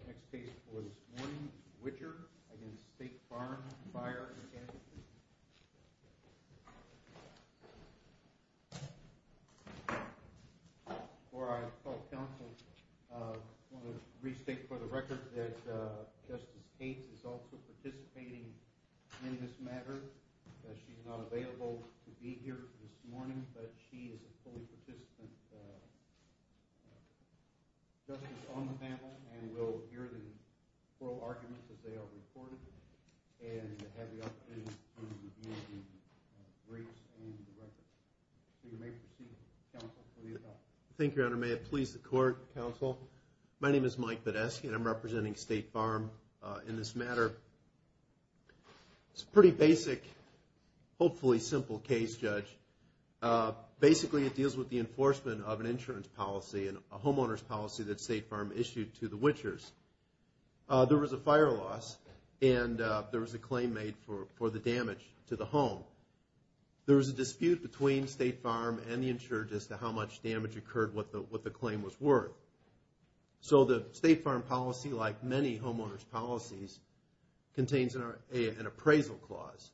The next case for this morning is Widger v. State Farm Fire & Casualty Co. Before I call counsel, I want to restate for the record that Justice Cates is also participating in this matter. She is not available to be here this morning, but she is a fully participant. She will present justice on the panel and will hear the oral arguments as they are reported, and have the opportunity to review the briefs and the record. So you may proceed, counsel, for the attorney. Thank you, Your Honor. May it please the Court, counsel. My name is Mike Videsky, and I'm representing State Farm in this matter. It's a pretty basic, hopefully simple, case, Judge. Basically, it deals with the enforcement of an insurance policy, a homeowner's policy that State Farm issued to the witchers. There was a fire loss, and there was a claim made for the damage to the home. There was a dispute between State Farm and the insurers as to how much damage occurred, what the claim was worth. So the State Farm policy, like many homeowner's policies, contains an appraisal clause.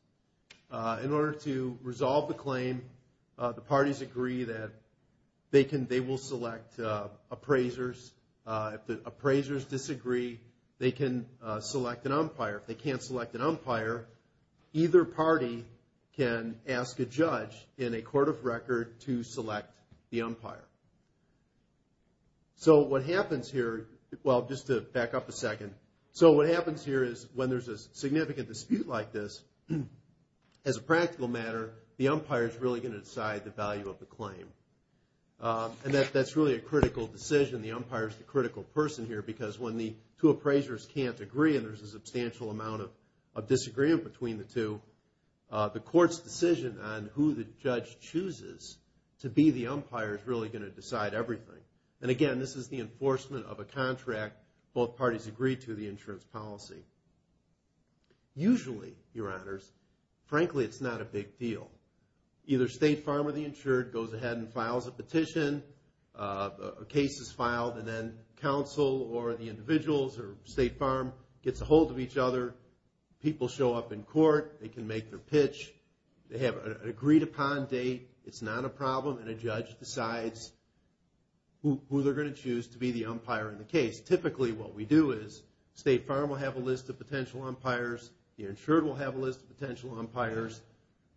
In order to resolve the claim, the parties agree that they will select appraisers. If the appraisers disagree, they can select an umpire. If they can't select an umpire, either party can ask a judge in a court of record to select the umpire. So what happens here, well, just to back up a second, so what happens here is when there's a significant dispute like this, as a practical matter, the umpire is really going to decide the value of the claim. And that's really a critical decision, the umpire is the critical person here, because when the two appraisers can't agree, and there's a substantial amount of disagreement between the two, the court's decision on who the judge chooses to be the umpire is really going to decide everything. And again, this is the enforcement of a contract both parties agree to, the insurance policy. Usually, Your Honors, frankly it's not a big deal. Either State Farm or the insured goes ahead and files a petition, a case is filed, and then counsel or the individuals or State Farm gets a hold of each other, people show up in court, they can make their pitch, they have an agreed upon date, it's not a problem, and a judge decides who they're going to choose to be the umpire in the case. Typically what we do is State Farm will have a list of potential umpires, the insured will have a list of potential umpires,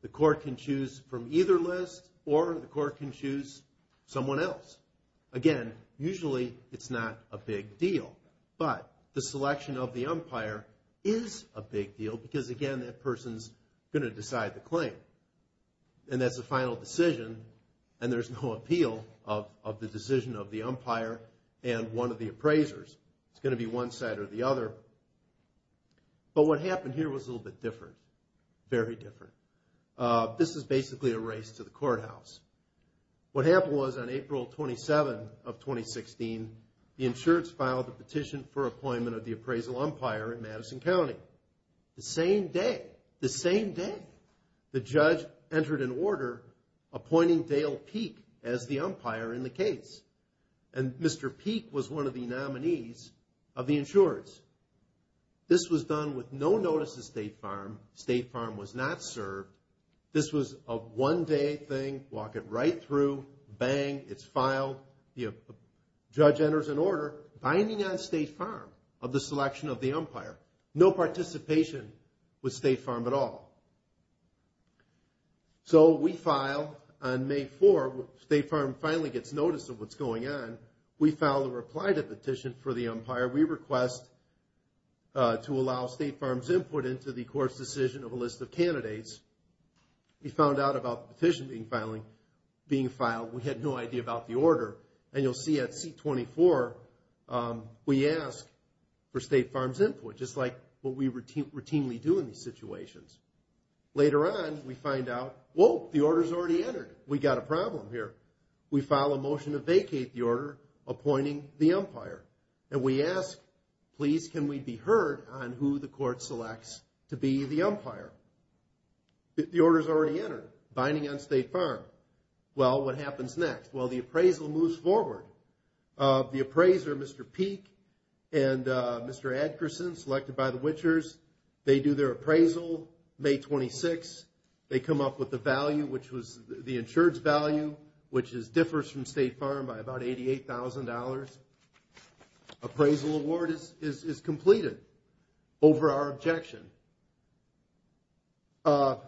the court can choose from either list, or the court can choose someone else. Again, usually it's not a big deal. But the selection of the umpire is a big deal because again, that person's going to decide the claim. And that's a final decision, and there's no appeal of the decision of the umpire and one of the appraisers. It's going to be one side or the other. But what happened here was a little bit different, very different. This is basically a race to the courthouse. What happened was on April 27 of 2016, the insureds filed a petition for appointment of the appraisal umpire in Madison County. The same day, the same day, the judge entered an order appointing Dale Peek as the umpire in the case. And Mr. Peek was one of the nominees of the insureds. This was done with no notice to State Farm, State Farm was not served. This was a one-day thing, walk it right through, bang, it's filed. The judge enters an order binding on State Farm of the selection of the umpire. No participation with State Farm at all. So we file on May 4, State Farm finally gets notice of what's going on. We file a reply to the petition for the umpire. We request to allow State Farm's input into the court's decision of a list of candidates. We found out about the petition being filed. We had no idea about the order. And you'll see at seat 24, we ask for State Farm's input, just like what we routinely do in these situations. Later on, we find out, whoa, the order's already entered, we got a problem here. We file a motion to vacate the order appointing the umpire. And we ask, please, can we be heard on who the court selects to be the umpire? The order's already entered, binding on State Farm. Well, what happens next? Well, the appraisal moves forward. The appraiser, Mr. Peek and Mr. Adkerson, selected by the witchers, they do their appraisal May 26. They come up with the value, which was the insured's value, which differs from State Farm by about $88,000. Appraisal award is completed over our objection. As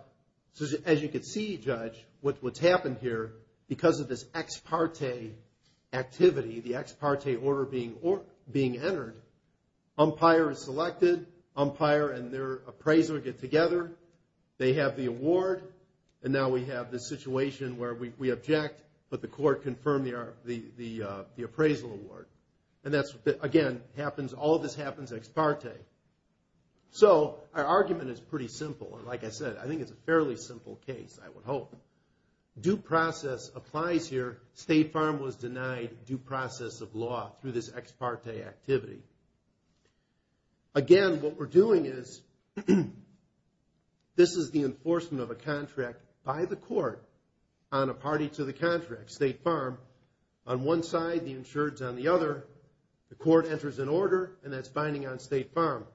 you can see, Judge, what's happened here, because of this ex parte activity, the ex parte order being entered, umpire is selected, umpire and their appraiser get together. They have the award, and now we have this situation where we object, but the court confirmed the appraisal award. And that's, again, all of this happens ex parte. So, our argument is pretty simple. Like I said, I think it's a fairly simple case, I would hope. Due process applies here. State Farm was denied due process of law through this ex parte activity. Again, what we're doing is, this is the enforcement of a contract by the court on a party to the contract, State Farm. On one side, the insured's on the other. The court enters an order, and that's binding on State Farm.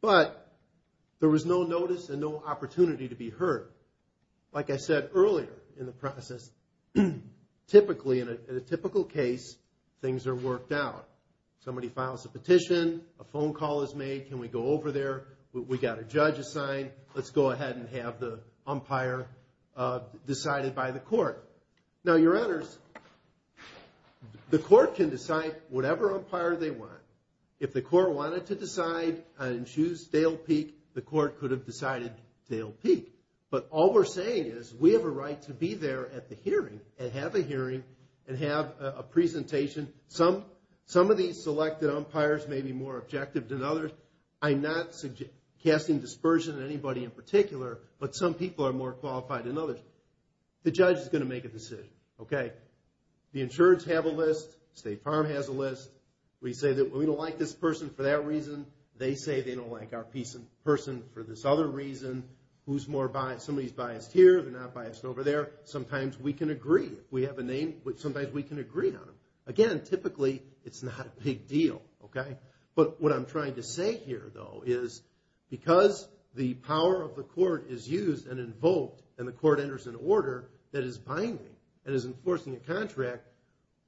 But, there was no notice and no opportunity to be heard. Like I said earlier in the process, typically, in a typical case, things are worked out. Somebody files a petition, a phone call is made, can we go over there, we got a judge assigned, let's go ahead and have the umpire decided by the court. Now, your honors, the court can decide whatever umpire they want. If the court wanted to decide and choose Dale Peak, the court could have decided Dale Peak. But, all we're saying is, we have a right to be there at the hearing, and have a hearing, and have a presentation. Some of these selected umpires may be more objective than others. I'm not casting dispersion on anybody in particular, but some people are more qualified than others. The judge is going to make a decision. The insured's have a list, State Farm has a list. We say that we don't like this person for that reason, they say they don't like our person for this other reason. Somebody's biased here, they're not biased over there. Sometimes we can agree. We have a name which sometimes we can agree on. Again, typically, it's not a big deal. But, what I'm trying to say here, though, is because the power of the court is used and invoked, and the court enters an order that is binding, and is enforcing a contract,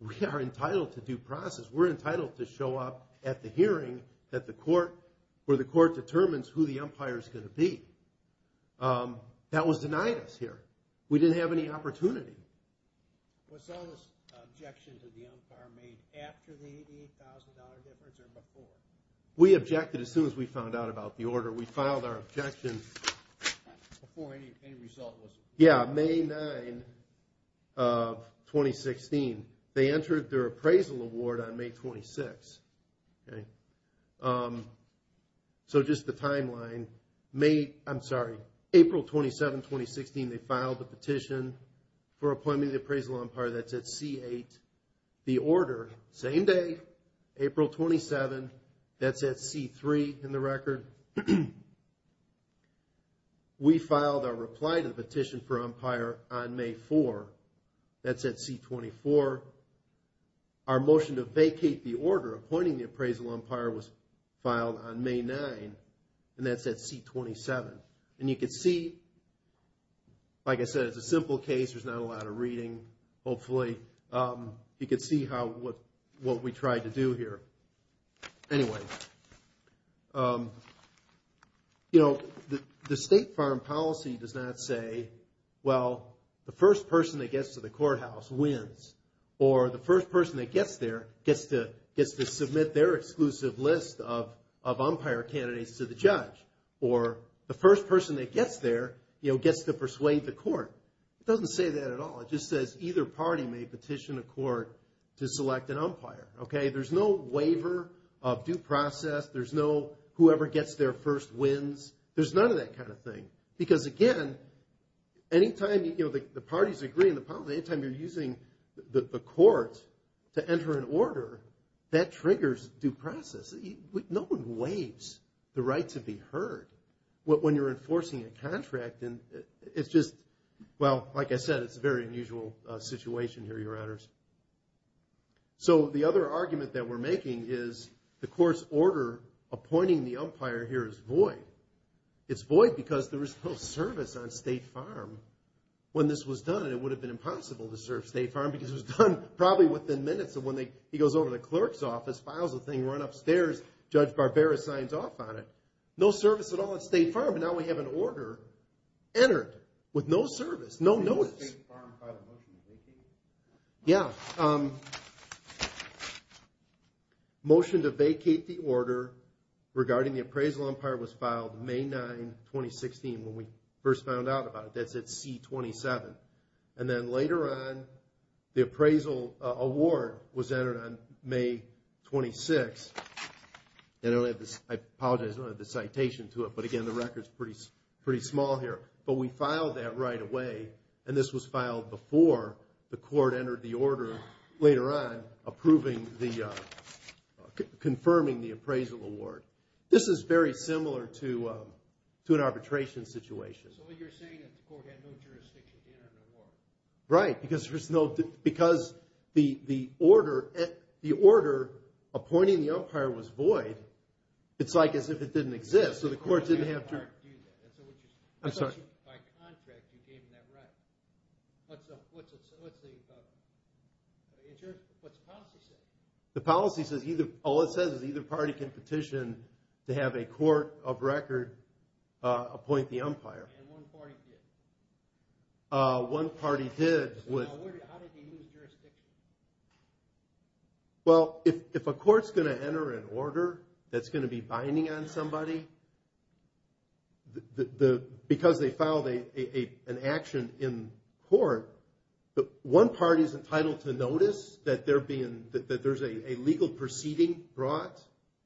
we are entitled to due process. We're entitled to show up at the hearing where the court determines who the umpire's going to be. That was denied us here. We didn't have any opportunity. Was all this objection to the umpire made after the $88,000 difference or before? We objected as soon as we found out about the order. We filed our objection before any result was made. Yeah, May 9, 2016. They entered their appraisal award on May 26. So, just the timeline. April 27, 2016, they filed the petition for appointment of the appraisal umpire. That's at C8. The order, same day, April 27. That's at C3 in the record. We filed our reply to the petition for umpire on May 4. That's at C24. Our motion to vacate the order appointing the appraisal umpire was filed on May 9. And that's at C27. And you can see, like I said, it's a simple case. There's not a lot of reading, hopefully. You can see what we tried to do here. Anyway, you know, the state farm policy does not say, well, the first person that gets to the courthouse wins. Or the first person that gets there gets to submit their exclusive list of umpire candidates to the judge. Or the first person that gets there, you know, gets to persuade the court. It doesn't say that at all. It just says either party may petition a court to select an umpire, okay? There's no waiver of due process. There's no whoever gets there first wins. There's none of that kind of thing. Because, again, any time, you know, the parties agree on the policy, any time you're using the court to enter an order, that triggers due process. No one waives the right to be heard when you're enforcing a contract. And it's just, well, like I said, it's a very unusual situation here, Your Honors. So the other argument that we're making is the court's order appointing the umpire here is void. It's void because there is no service on State Farm. When this was done, it would have been impossible to serve State Farm because it was done probably within minutes of when he goes over to the clerk's office, files the thing, run upstairs, Judge Barbera signs off on it. No service at all at State Farm. And now we have an order entered with no service, no notice. Did State Farm file a motion to vacate? Yeah. Motion to vacate the order regarding the appraisal umpire was filed May 9, 2016, when we first found out about it. That's at C-27. And then later on, the appraisal award was entered on May 26. I apologize, I don't have the citation to it. But, again, the record's pretty small here. But we filed that right away. And this was filed before the court entered the order later on confirming the appraisal award. This is very similar to an arbitration situation. So what you're saying is the court had no jurisdiction to enter the award. Right. Because the order appointing the umpire was void, it's like as if it didn't exist. So the court didn't have jurisdiction. I'm sorry. By contract, you gave them that right. What's the policy say? The policy says all it says is either party can petition to have a court of record appoint the umpire. And one party did. One party did. How did they lose jurisdiction? Well, if a court's going to enter an order that's going to be binding on somebody, because they filed an action in court, one party's entitled to notice that there's a legal proceeding brought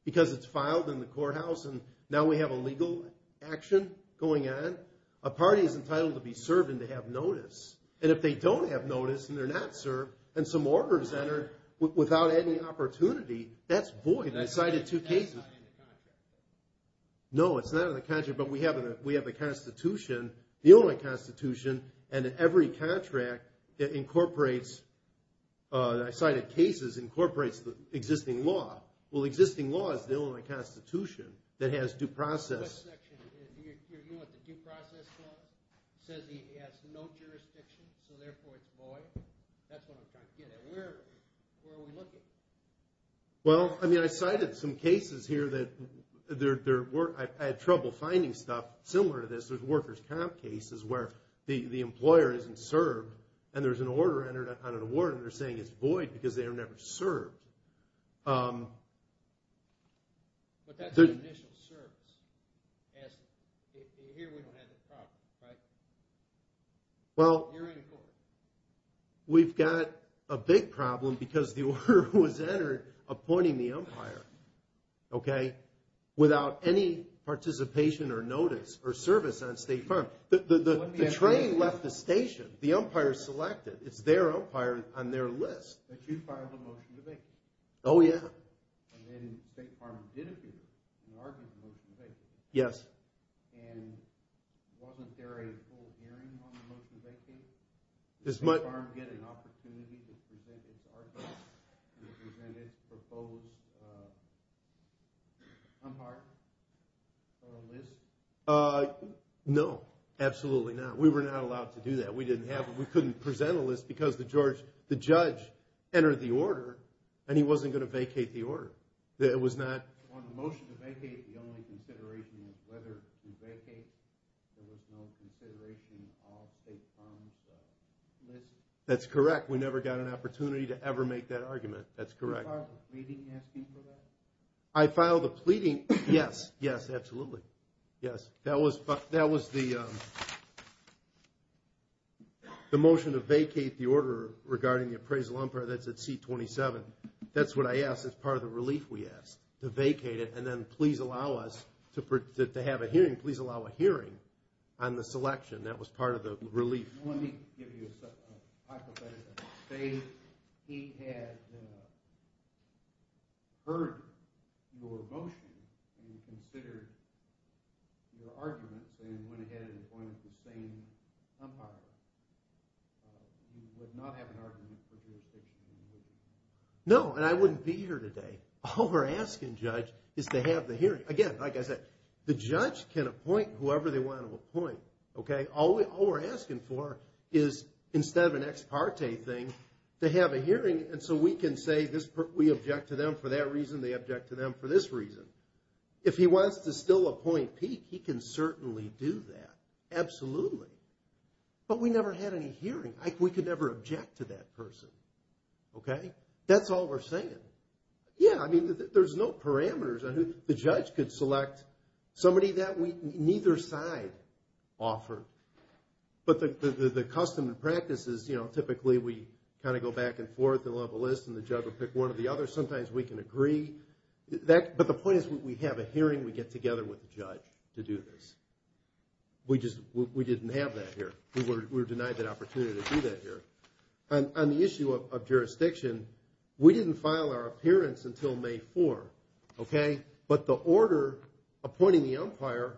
because it's filed in the courthouse and now we have a legal action going on. A party is entitled to be served and to have notice. And if they don't have notice and they're not served and some order is entered without any opportunity, that's void. That's cited two cases. That's not in the contract. No, it's not in the contract, but we have the Constitution, the only Constitution, and every contract that incorporates cited cases incorporates the existing law. Well, the existing law is the only Constitution that has due process. Do you know what the due process law is? It says it has no jurisdiction, so therefore it's void. That's what I'm trying to get at. Where are we looking? Well, I cited some cases here that I had trouble finding stuff similar to this. There's workers' comp cases where the employer isn't served and there's an order entered on an award and they're saying it's void because they were never served. But that's an initial service. Here we don't have that problem, right? Well, we've got a big problem because the order was entered appointing the umpire, okay, without any participation or notice or service on State Farm. The train left the station. The umpire selected. It's their umpire on their list. That you filed a motion to vacate. Oh, yeah. And then State Farm did appear and argued the motion to vacate. Yes. And wasn't there a full hearing on the motion to vacate? Did State Farm get an opportunity to present it to our judge and present its proposed umpire list? No, absolutely not. We were not allowed to do that. We couldn't present a list because the judge entered the order and he wasn't going to vacate the order. It was not. On the motion to vacate, the only consideration was whether to vacate. There was no consideration on State Farm's list. That's correct. We never got an opportunity to ever make that argument. That's correct. Did you file a pleading asking for that? I filed a pleading. Yes. Yes, absolutely. That was the motion to vacate the order regarding the appraisal umpire. That's at seat 27. That's what I asked as part of the relief we asked. To vacate it and then please allow us to have a hearing. Please allow a hearing on the selection. That was part of the relief. Let me give you a hypothetical. Let's say he had heard your motion and considered your arguments and went ahead and appointed the same umpire. You would not have an argument for jurisdiction. No, and I wouldn't be here today. All we're asking, Judge, is to have the hearing. Again, like I said, the judge can appoint whoever they want to appoint. All we're asking for is, instead of an ex parte thing, to have a hearing so we can say we object to them for that reason, they object to them for this reason. If he wants to still appoint Peek, he can certainly do that. Absolutely. But we never had any hearing. We could never object to that person. That's all we're saying. Yeah, I mean, there's no parameters on who the judge could select. Somebody that neither side offered. But the custom and practice is, you know, typically we kind of go back and forth. They'll have a list and the judge will pick one or the other. Sometimes we can agree. But the point is we have a hearing. We get together with the judge to do this. We just didn't have that here. We were denied that opportunity to do that here. On the issue of jurisdiction, we didn't file our appearance until May 4th. Okay? But the order appointing the umpire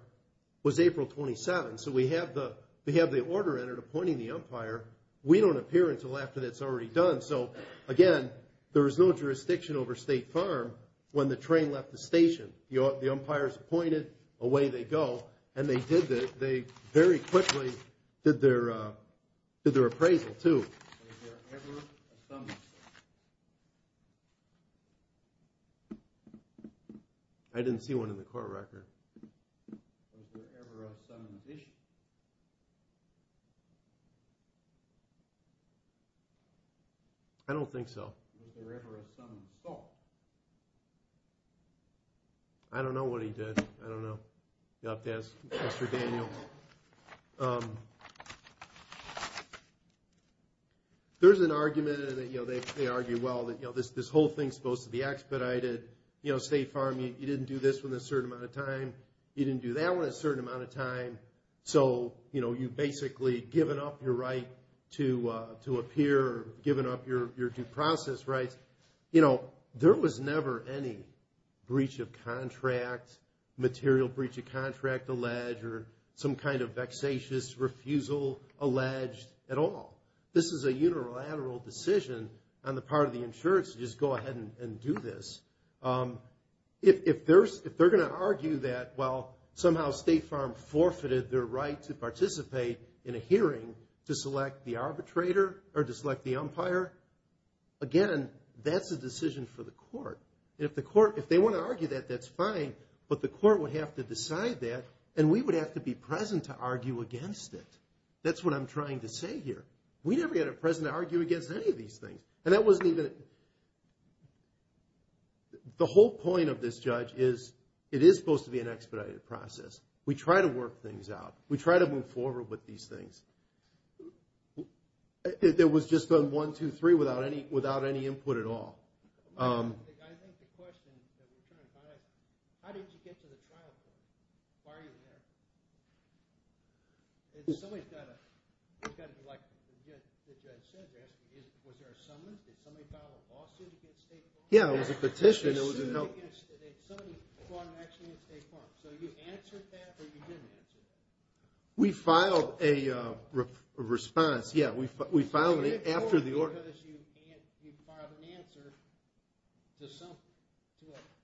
was April 27th. So we have the order entered appointing the umpire. We don't appear until after that's already done. So, again, there is no jurisdiction over State Farm when the train left the station. The umpire is appointed. Away they go. And they very quickly did their appraisal, too. I didn't see one in the court record. I don't think so. I don't know what he did. I don't know. You'll have to ask Mr. Daniel. There's an argument. They argue, well, this whole thing is supposed to be expedited. You know, State Farm, you didn't do this one a certain amount of time. You didn't do that one a certain amount of time. So, you know, you've basically given up your right to appear, given up your due process rights. There was never any breach of contract, material breach of contract alleged, or some kind of vexatious refusal alleged at all. This is a unilateral decision on the part of the insurance to just go ahead and do this. If they're going to argue that, well, somehow State Farm forfeited their right to participate in a hearing to select the arbitrator or to select the umpire, again, that's a decision for the court. If the court, if they want to argue that, that's fine, but the court would have to decide that and we would have to be present to argue against it. That's what I'm trying to say here. We never got to be present to argue against any of these things. And that wasn't even, the whole point of this, Judge, is it is supposed to be an expedited process. We try to work things out. We try to move forward with these things. It was just a one, two, three without any input at all. I think the question that we're trying to find out, how did you get to the trial court? Why are you there? Somebody's got to be like, as Judge said, they're asking, was there a summons? Did somebody file a lawsuit against State Farm? Yeah, it was a petition. Did somebody file an action against State Farm? So you answered that or you didn't answer that? We filed a response, yeah. We filed an answer to a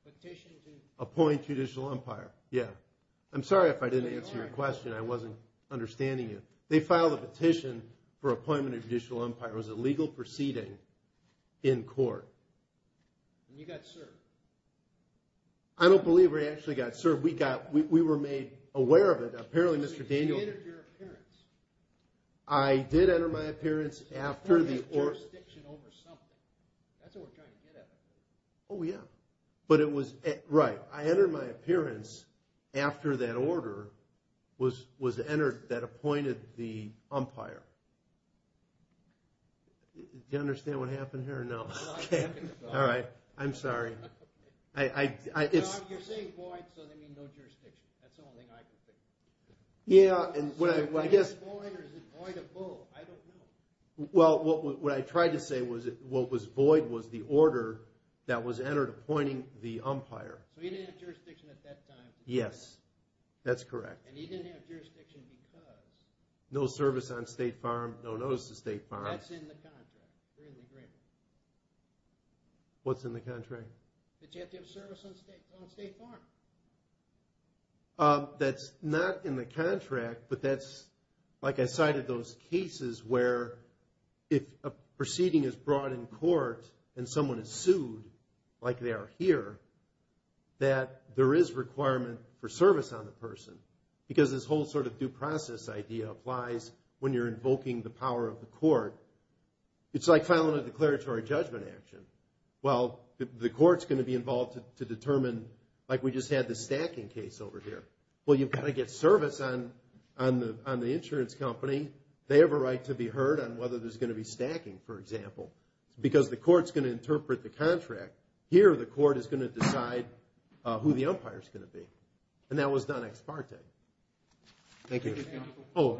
petition to appoint Judicial Empire. Yeah. I'm sorry if I didn't answer your question. I wasn't understanding you. They filed a petition for appointment of Judicial Empire. It was a legal proceeding in court. And you got served. I don't believe we actually got served. We were made aware of it. Apparently, Mr. Daniels. You entered your appearance. I did enter my appearance after the order. There's jurisdiction over something. That's what we're trying to get at. Oh, yeah. But it was, right. I entered my appearance after that order was entered that appointed the umpire. Do you understand what happened here or no? No, I understand. All right. I'm sorry. You're saying void, so that means no jurisdiction. That's the only thing I can think of. Yeah. Is it void or is it void of both? I don't know. Well, what I tried to say was what was void was the order that was entered appointing the umpire. So he didn't have jurisdiction at that time. Yes. That's correct. And he didn't have jurisdiction because? No service on State Farm, no notice to State Farm. That's in the contract. Really great. What's in the contract? That you have to have service on State Farm. That's not in the contract, but that's like I cited those cases where if a proceeding is brought in court and someone is sued, like they are here, that there is requirement for service on the person because this whole sort of due process idea applies when you're invoking the power of the court. It's like filing a declaratory judgment action. Well, the court's going to be involved to determine, like we just had the stacking case over here. Well, you've got to get service on the insurance company. They have a right to be heard on whether there's going to be stacking, for example, because the court's going to interpret the contract. Here, the court is going to decide who the umpire is going to be. And that was done ex parte. Thank you. Thank you, Counsel. Oh.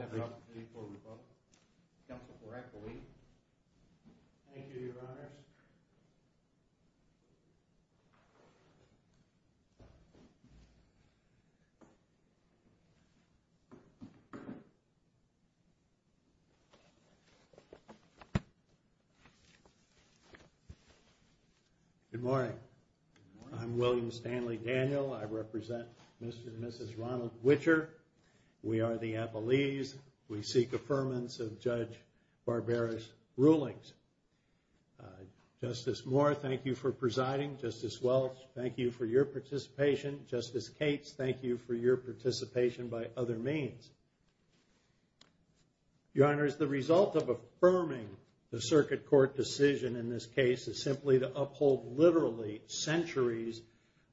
Good morning. Good morning. I'm William Stanley Daniel. I represent Mr. and Mrs. Ronald Witcher. We are the Appellees. We seek affirmance of Judge Barbera's rulings. Justice Moore, thank you for presiding. Justice Welch, thank you for your participation. Justice Cates, thank you for your participation by other means. Your Honor, as the result of affirming the circuit court decision in this case is simply to uphold literally centuries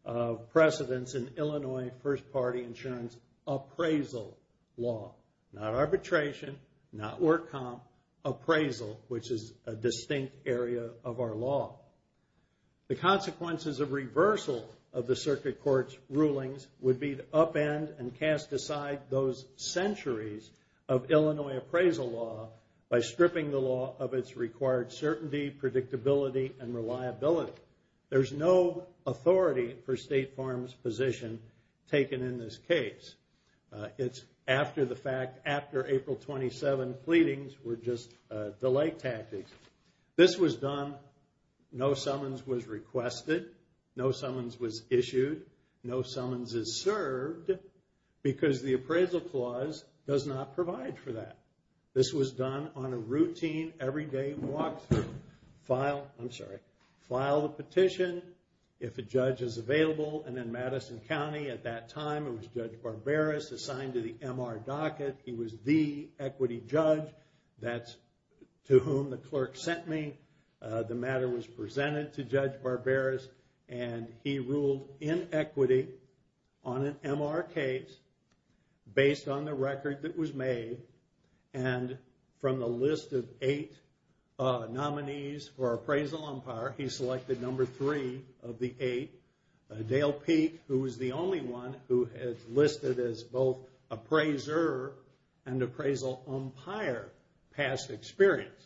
of precedence in Illinois First Party Insurance appraisal law. Not arbitration, not work comp, appraisal, which is a distinct area of our law. The consequences of reversal of the circuit court's rulings would be to upend and cast aside those centuries of Illinois appraisal law by stripping the law of its required certainty, predictability, and reliability. There's no authority for State Farm's position taken in this case. It's after the fact, after April 27 pleadings were just delay tactics. This was done. No summons was requested. No summons was issued. No summons is served because the appraisal clause does not provide for that. This was done on a routine, everyday walkthrough. File, I'm sorry, file the petition if a judge is available. And in Madison County at that time it was Judge Barberis assigned to the MR docket. He was the equity judge. That's to whom the clerk sent me. The matter was presented to Judge Barberis and he ruled in equity on an MR case based on the record that was made. And from the list of eight nominees for appraisal umpire, he selected number three of the eight. Dale Peak, who was the only one who had listed as both appraiser and appraisal umpire past experience.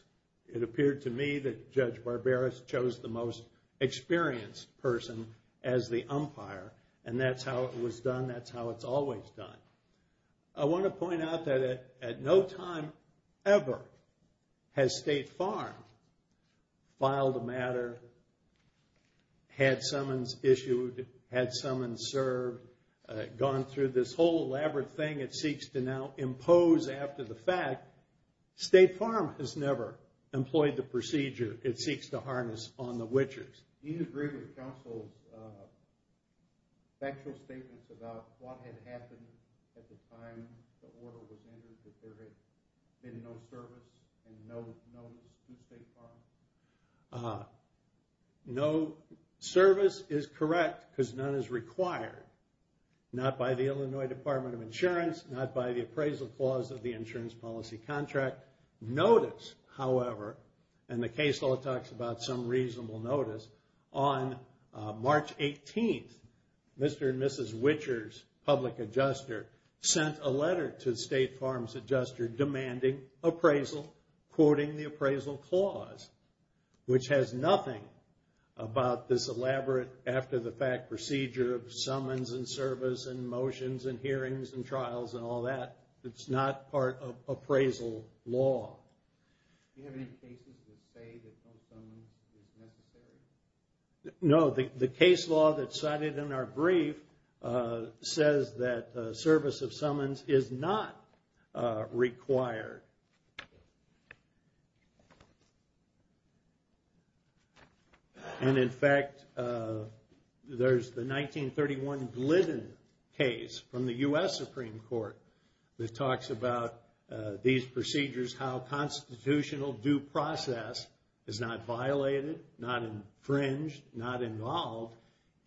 It appeared to me that Judge Barberis chose the most experienced person as the umpire. And that's how it was done. That's how it's always done. I want to point out that at no time ever has State Farm filed a matter, had summons issued, had summons served, gone through this whole elaborate thing it seeks to now impose after the fact. State Farm has never employed the procedure it seeks to harness on the witchers. Do you agree with counsel's factual statements about what had happened at the time the order was entered that there had been no service and no notice to State Farm? No service is correct because none is required. Not by the Illinois Department of Insurance, not by the appraisal clause of the insurance policy contract. Notice, however, and the case law talks about some reasonable notice, on March 18th, Mr. and Mrs. Witchers, public adjuster, sent a letter to State Farm's adjuster demanding appraisal, quoting the appraisal clause, which has nothing about this elaborate after the fact procedure of summons and service and motions and hearings and trials and all that. It's not part of appraisal law. Do you have any cases that say that some summons is necessary? No, the case law that's cited in our brief says that service of summons is not required. And in fact, there's the 1931 Glidden case from the U.S. Supreme Court that talks about these procedures, how constitutional due process is not violated, not infringed, not involved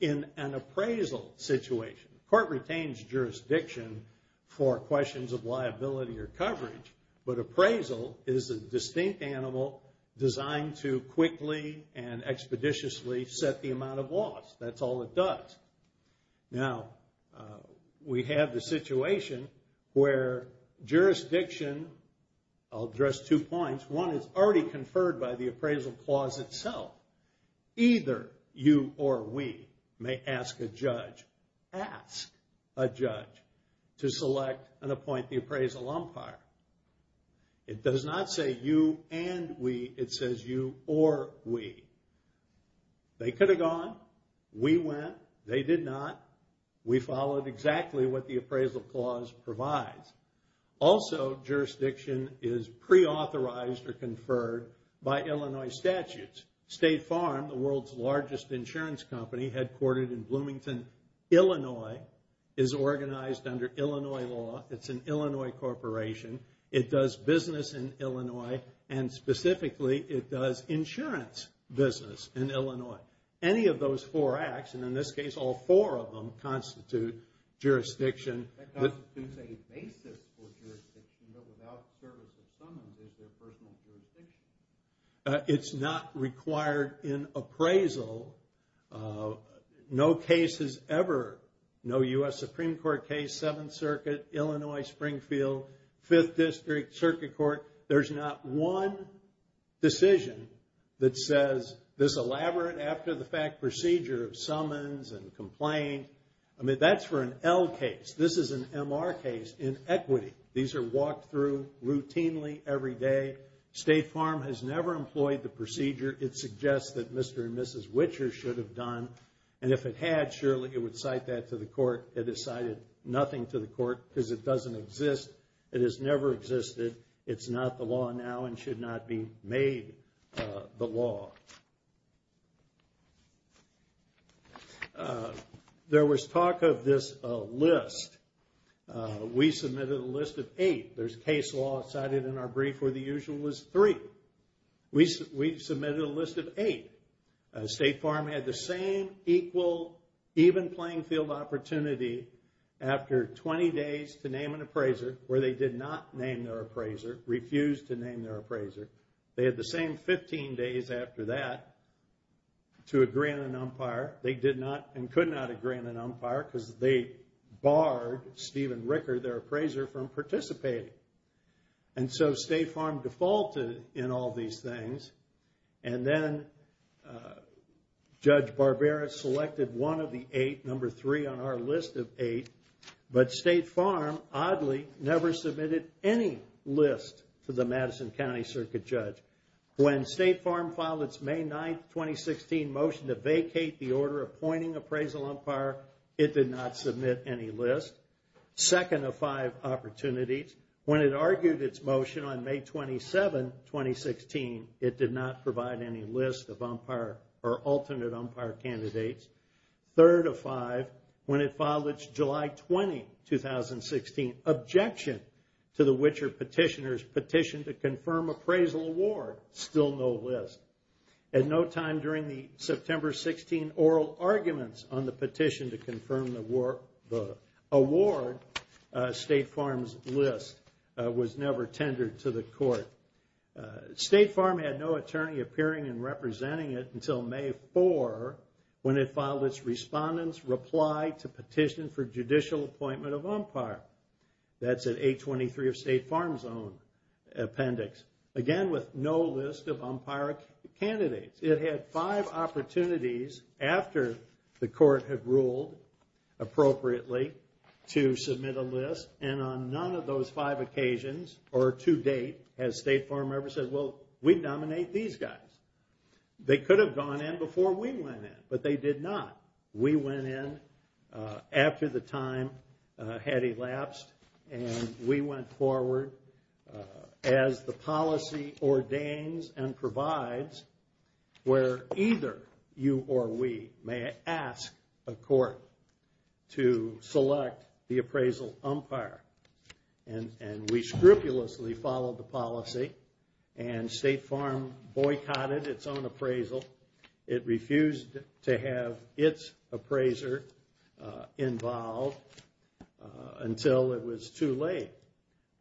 in an appraisal situation. Court retains jurisdiction for questions of liability or coverage, but appraisal is a distinct animal designed to quickly and expeditiously set the amount of loss. That's all it does. Now, we have the situation where jurisdiction, I'll address two points. One is already conferred by the appraisal clause itself. Either you or we may ask a judge, ask a judge, to select and appoint the appraisal umpire. It does not say you and we. It says you or we. They could have gone. We went. They did not. We followed exactly what the appraisal clause provides. Also, jurisdiction is preauthorized or conferred by Illinois statutes. State Farm, the world's largest insurance company headquartered in Bloomington, Illinois, is organized under Illinois law. It's an Illinois corporation. It does business in Illinois, and specifically, it does insurance business in Illinois. Any of those four acts, and in this case, all four of them constitute jurisdiction. That constitutes a basis for jurisdiction, but without the service of someone, there's no personal jurisdiction. It's not required in appraisal. No cases ever, no U.S. Supreme Court case, Seventh Circuit, Illinois, Springfield, Fifth District, Circuit Court, there's not one decision that says this elaborate after-the-fact procedure of summons and complaint, I mean, that's for an L case. This is an MR case in equity. These are walked through routinely every day. State Farm has never employed the procedure. It suggests that Mr. and Mrs. Witcher should have done, and if it had, surely it would cite that to the court. It has cited nothing to the court because it doesn't exist. It has never existed. It's not the law now and should not be made the law. There was talk of this list. We submitted a list of eight. There's case law cited in our brief where the usual is three. We submitted a list of eight. State Farm had the same, equal, even playing field opportunity after 20 days to name an appraiser, where they did not name their appraiser, refused to name their appraiser. They had the same 15 days after that to agree on an umpire. They did not and could not agree on an umpire because they barred Stephen Ricker, their appraiser, from participating. And so State Farm defaulted in all these things, and then Judge Barbera selected one of the eight, number three on our list of eight, but State Farm oddly never submitted any list to the Madison County Circuit Judge. When State Farm filed its May 9, 2016, motion to vacate the order appointing appraisal umpire, it did not submit any list. Second of five opportunities, when it argued its motion on May 27, 2016, it did not provide any list of umpire or alternate umpire candidates. Third of five, when it filed its July 20, 2016, objection to the Witcher petitioner's petition to confirm appraisal award, still no list. At no time during the September 16 oral arguments on the petition to confirm the award, State Farm's list was never tendered to the court. State Farm had no attorney appearing and representing it until May 4, when it filed its respondent's reply to petition for judicial appointment of umpire. That's at 823 of State Farm's own appendix. Again, with no list of umpire candidates. It had five opportunities after the court had ruled appropriately to submit a list, and on none of those five occasions, or to date, has State Farm ever said, well, we nominate these guys. They could have gone in before we went in, but they did not. We went in after the time had elapsed, and we went forward as the policy ordains and provides where either you or we may ask a court to select the appraisal umpire. And we scrupulously followed the policy, and State Farm boycotted its own appraisal. It refused to have its appraiser involved until it was too late.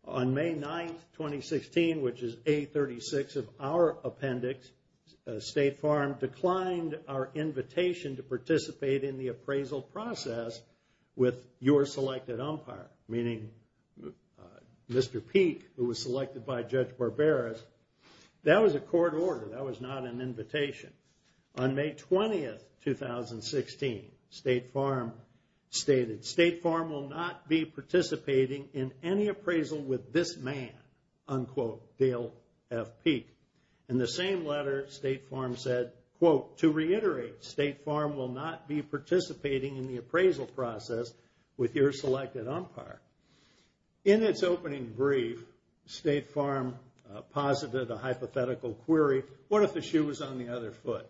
On May 9, 2016, which is 836 of our appendix, State Farm declined our invitation to participate in the appraisal process with your selected umpire, meaning Mr. Peek, who was selected by Judge Barbera. That was a court order. That was not an invitation. On May 20, 2016, State Farm stated, State Farm will not be participating in any appraisal with this man, unquote, Dale F. Peek. In the same letter, State Farm said, quote, to reiterate, State Farm will not be participating in the appraisal process with your selected umpire. In its opening brief, State Farm posited a hypothetical query. What if the shoe was on the other foot?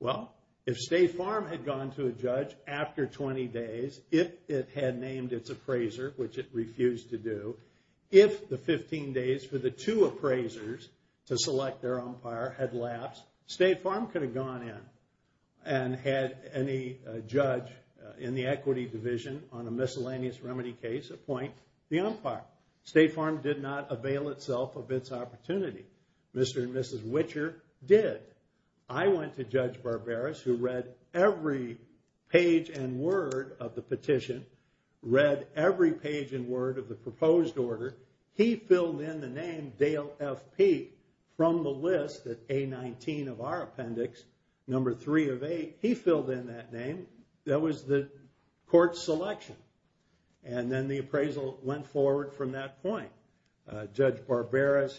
Well, if State Farm had gone to a judge after 20 days, if it had named its appraiser, which it refused to do, if the 15 days for the two appraisers to select their umpire had lapsed, State Farm could have gone in and had any judge in the equity division on a miscellaneous remedy case appoint the umpire. State Farm did not avail itself of its opportunity. Mr. and Mrs. Witcher did. I went to Judge Barbera, who read every page and word of the petition, read every page and word of the proposed order. He filled in the name Dale F. Peek from the list at A-19 of our appendix, number three of eight. He filled in that name. That was the court's selection. And then the appraisal went forward from that point. Judge Barbera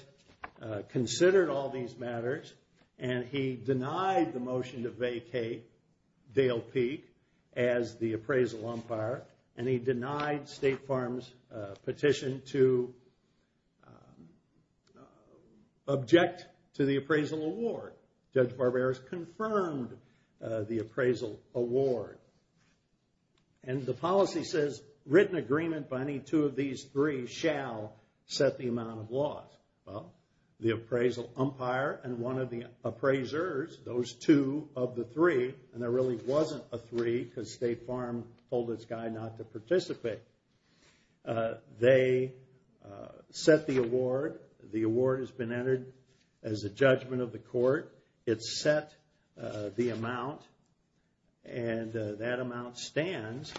considered all these matters, and he denied the motion to vacate Dale Peek as the appraisal umpire, and he denied State Farm's petition to object to the appraisal award. Judge Barbera has confirmed the appraisal award. And the policy says written agreement by any two of these three shall set the amount of loss. Well, the appraisal umpire and one of the appraisers, those two of the three, and there really wasn't a three because State Farm told its guy not to participate. They set the award. The award has been entered as a judgment of the court. It set the amount, and that amount stands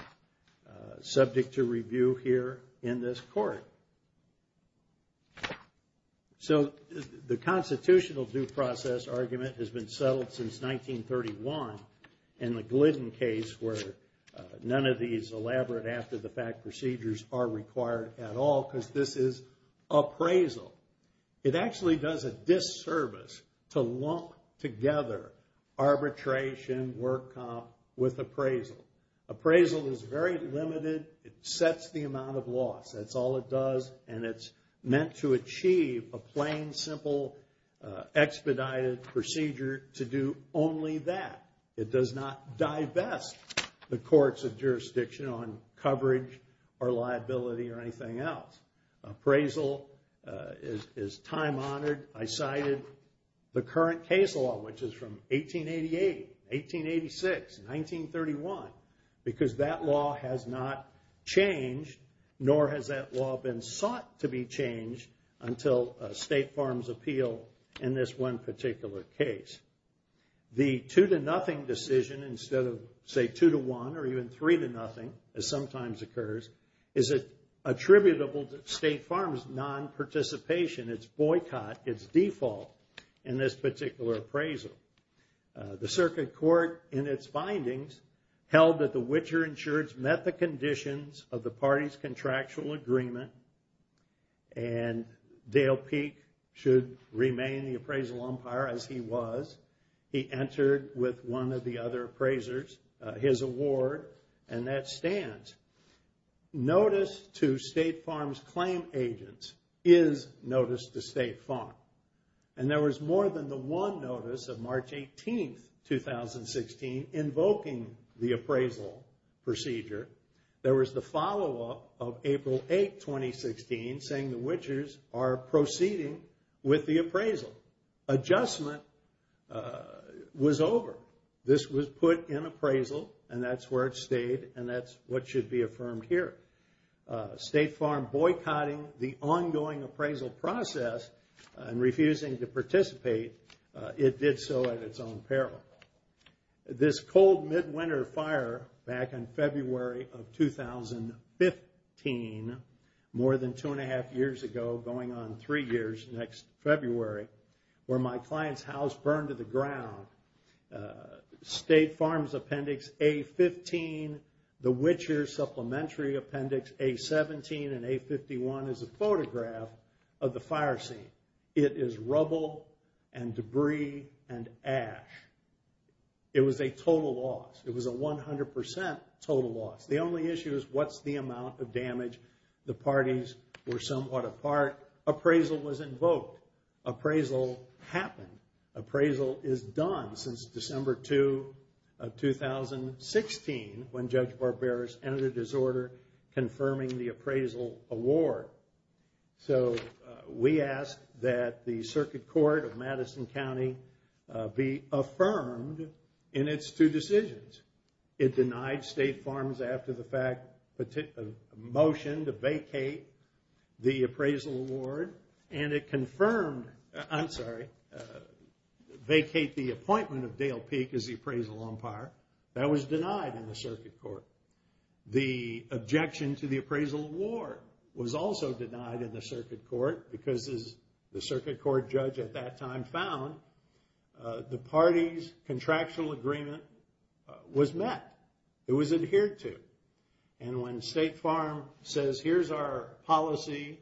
subject to review here in this court. So the constitutional due process argument has been settled since 1931 in the Glidden case where none of these elaborate after-the-fact procedures are required at all because this is appraisal. It actually does a disservice to lump together arbitration, work comp, with appraisal. Appraisal is very limited. It sets the amount of loss. That's all it does, and it's meant to achieve a plain, simple expedited procedure to do only that. It does not divest the courts of jurisdiction on coverage or liability or anything else. Appraisal is time-honored. I cited the current case law, which is from 1888, 1886, 1931, because that law has not changed, nor has that law been sought to be changed until State Farm's appeal in this one particular case. The two-to-nothing decision instead of, say, two-to-one or even three-to-nothing, as sometimes occurs, is attributable to State Farm's nonparticipation, its boycott, its default in this particular appraisal. The circuit court, in its findings, held that the witcher insureds met the conditions of the party's contractual agreement and Dale Peek should remain the appraisal umpire as he was. He entered with one of the other appraisers his award, and that stands. Notice to State Farm's claim agents is notice to State Farm. And there was more than the one notice of March 18, 2016, invoking the appraisal procedure. There was the follow-up of April 8, 2016, saying the witchers are proceeding with the appraisal. Adjustment was over. This was put in appraisal, and that's where it stayed, and that's what should be affirmed here. State Farm boycotting the ongoing appraisal process and refusing to participate, it did so at its own peril. This cold midwinter fire back in February of 2015, more than two-and-a-half years ago, going on three years next February, where my client's house burned to the ground, State Farm's appendix A-15, the witcher's supplementary appendix A-17 and A-51 is a photograph of the fire scene. It is rubble and debris and ash. It was a total loss. It was a 100% total loss. The only issue is what's the amount of damage. The parties were somewhat apart. Appraisal was invoked. Appraisal happened. Appraisal is done since December 2 of 2016, when Judge Barberis entered his order confirming the appraisal award. So we ask that the Circuit Court of Madison County be affirmed in its two decisions. It denied State Farms after the motion to vacate the appraisal award, and it confirmed, I'm sorry, vacate the appointment of Dale Peek as the appraisal umpire. That was denied in the Circuit Court. The objection to the appraisal award was also denied in the Circuit Court because, as the Circuit Court judge at that time found, the parties' contractual agreement was met. It was adhered to. And when State Farm says, here's our policy.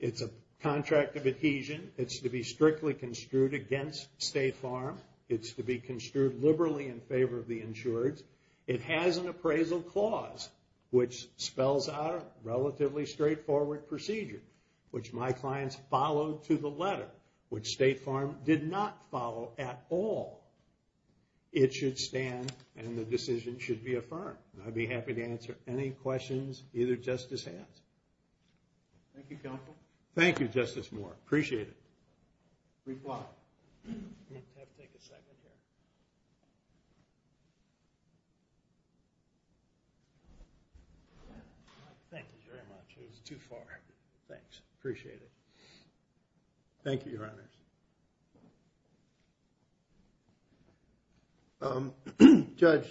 It's a contract of adhesion. It's to be strictly construed against State Farm. It's to be construed liberally in favor of the insured. It has an appraisal clause, which spells out a relatively straightforward procedure, which my clients followed to the letter, which State Farm did not follow at all. It should stand, and the decision should be affirmed. I'd be happy to answer any questions either justice has. Thank you, Counsel. Thank you, Justice Moore. Appreciate it. Reply. I have to take a second here. Thank you very much. It was too far. Thanks. Appreciate it. Thank you, Your Honors. Judge,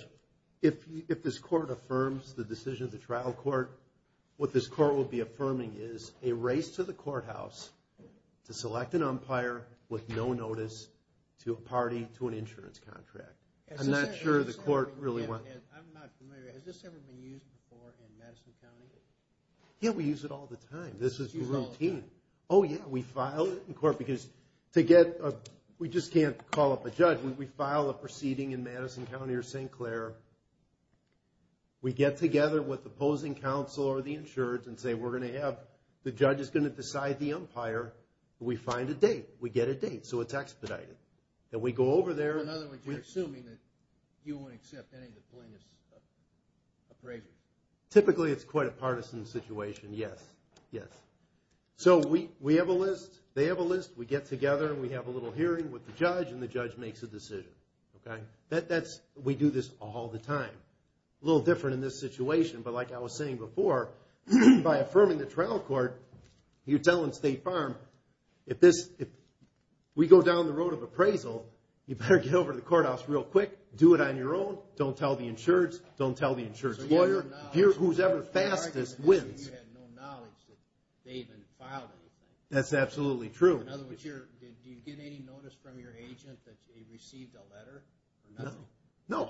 if this Court affirms the decision of the trial court, what this Court will be affirming is a race to the courthouse to select an umpire with no notice to a party to an insurance contract. I'm not sure the Court really wants to. I'm not familiar. Has this ever been used before in Madison County? Yeah, we use it all the time. This is routine. Oh, yeah. We file it in court because to get a – we just can't call up a judge. We file a proceeding in Madison County or St. Clair. We get together with the opposing counsel or the insurance and say, we're going to have – the judge is going to decide the umpire. We find a date. We get a date. So it's expedited. And we go over there. In other words, you're assuming that you won't accept any plaintiff's appraisal. Typically, it's quite a partisan situation, yes, yes. So we have a list. They have a list. We get together and we have a little hearing with the judge, and the judge makes a decision. We do this all the time. A little different in this situation, but like I was saying before, by affirming the trial court, you're telling State Farm, if we go down the road of appraisal, you better get over to the courthouse real quick. Do it on your own. Don't tell the insurance. Don't tell the insurance lawyer. Whoever's ever fastest wins. You had no knowledge that they even filed anything. That's absolutely true. In other words, did you get any notice from your agent that they received a letter? No.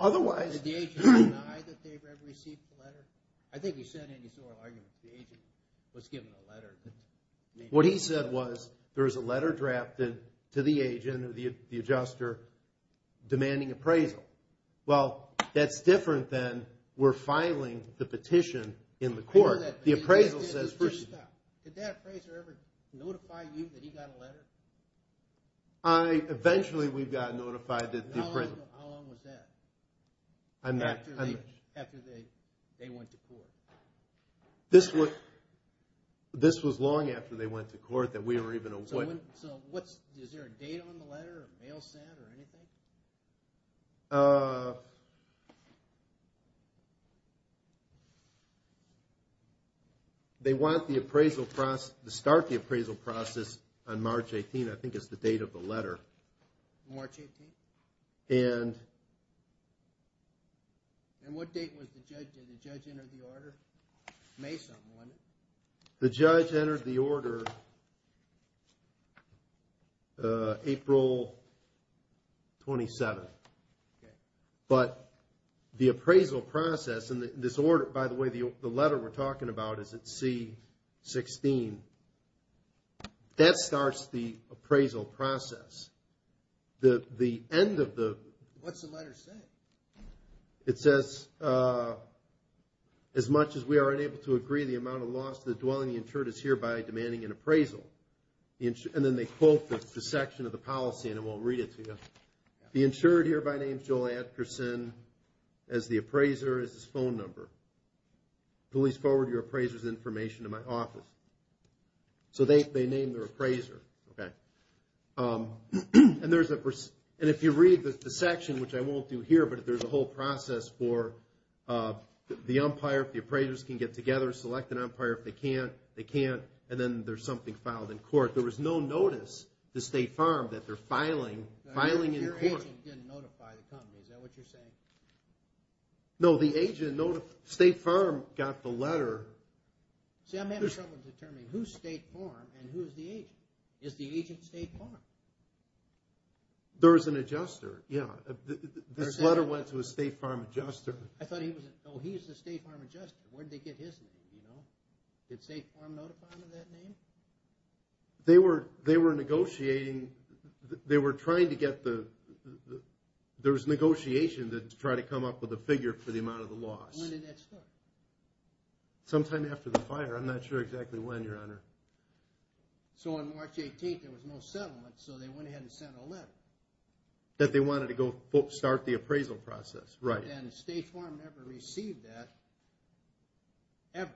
Did the agent deny that they ever received a letter? I think he said in his oral argument that the agent was given a letter. What he said was there was a letter drafted to the agent or the adjuster demanding appraisal. Well, that's different than we're filing the petition in the court. The appraisal says first. Did that appraiser ever notify you that he got a letter? Eventually, we got notified that the appraisal. How long was that after they went to court? This was long after they went to court that we were even awarded. Is there a date on the letter or mail set or anything? They want the appraisal process to start the appraisal process on March 18. I think it's the date of the letter. March 18? What date did the judge enter the order? May something, wasn't it? The judge entered the order April 27. But the appraisal process in this order, by the way, the letter we're talking about is at C-16. That starts the appraisal process. The end of the… What's the letter say? It says, as much as we are unable to agree the amount of loss to the dwelling, the insured is hereby demanding an appraisal. And then they quote the section of the policy, and I won't read it to you. The insured hereby names Joel Adkerson as the appraiser, as his phone number. Please forward your appraiser's information to my office. So they name their appraiser. And if you read the section, which I won't do here, but there's a whole process for the umpire. If the appraisers can get together, select an umpire. If they can't, they can't. And then there's something filed in court. There was no notice to State Farm that they're filing in court. Your agent didn't notify the company. Is that what you're saying? No, the agent, State Farm got the letter. See, I'm having trouble determining who's State Farm and who's the agent. Is the agent State Farm? There was an adjuster, yeah. This letter went to a State Farm adjuster. I thought he was a State Farm adjuster. Where did they get his name, you know? Did State Farm notify him of that name? They were negotiating. They were trying to get the – there was negotiation to try to come up with a figure for the amount of the loss. When did that start? Sometime after the fire. I'm not sure exactly when, Your Honor. So on March 18th, there was no settlement, so they went ahead and sent a letter. That they wanted to go start the appraisal process, right. And State Farm never received that, ever.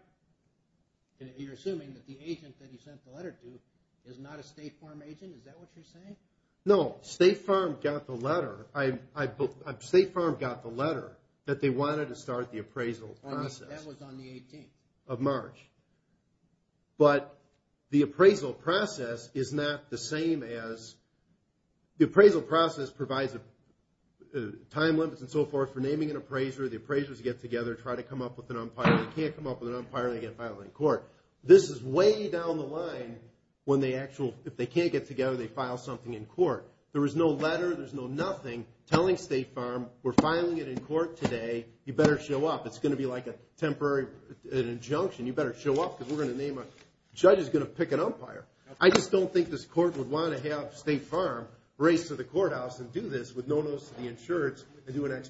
You're assuming that the agent that he sent the letter to is not a State Farm agent? Is that what you're saying? No, State Farm got the letter. That they wanted to start the appraisal process. That was on the 18th. Of March. But the appraisal process is not the same as – the appraisal process provides time limits and so forth for naming an appraiser. The appraisers get together, try to come up with an umpire. They can't come up with an umpire, they get filed in court. This is way down the line when they actually – if they can't get together, they file something in court. There was no letter, there's no nothing telling State Farm, we're filing it in court today, you better show up. It's going to be like a temporary – an injunction. You better show up because we're going to name a – the judge is going to pick an umpire. I just don't think this court would want to have State Farm race to the courthouse and do this with no notice to the insurance and do an ex parte.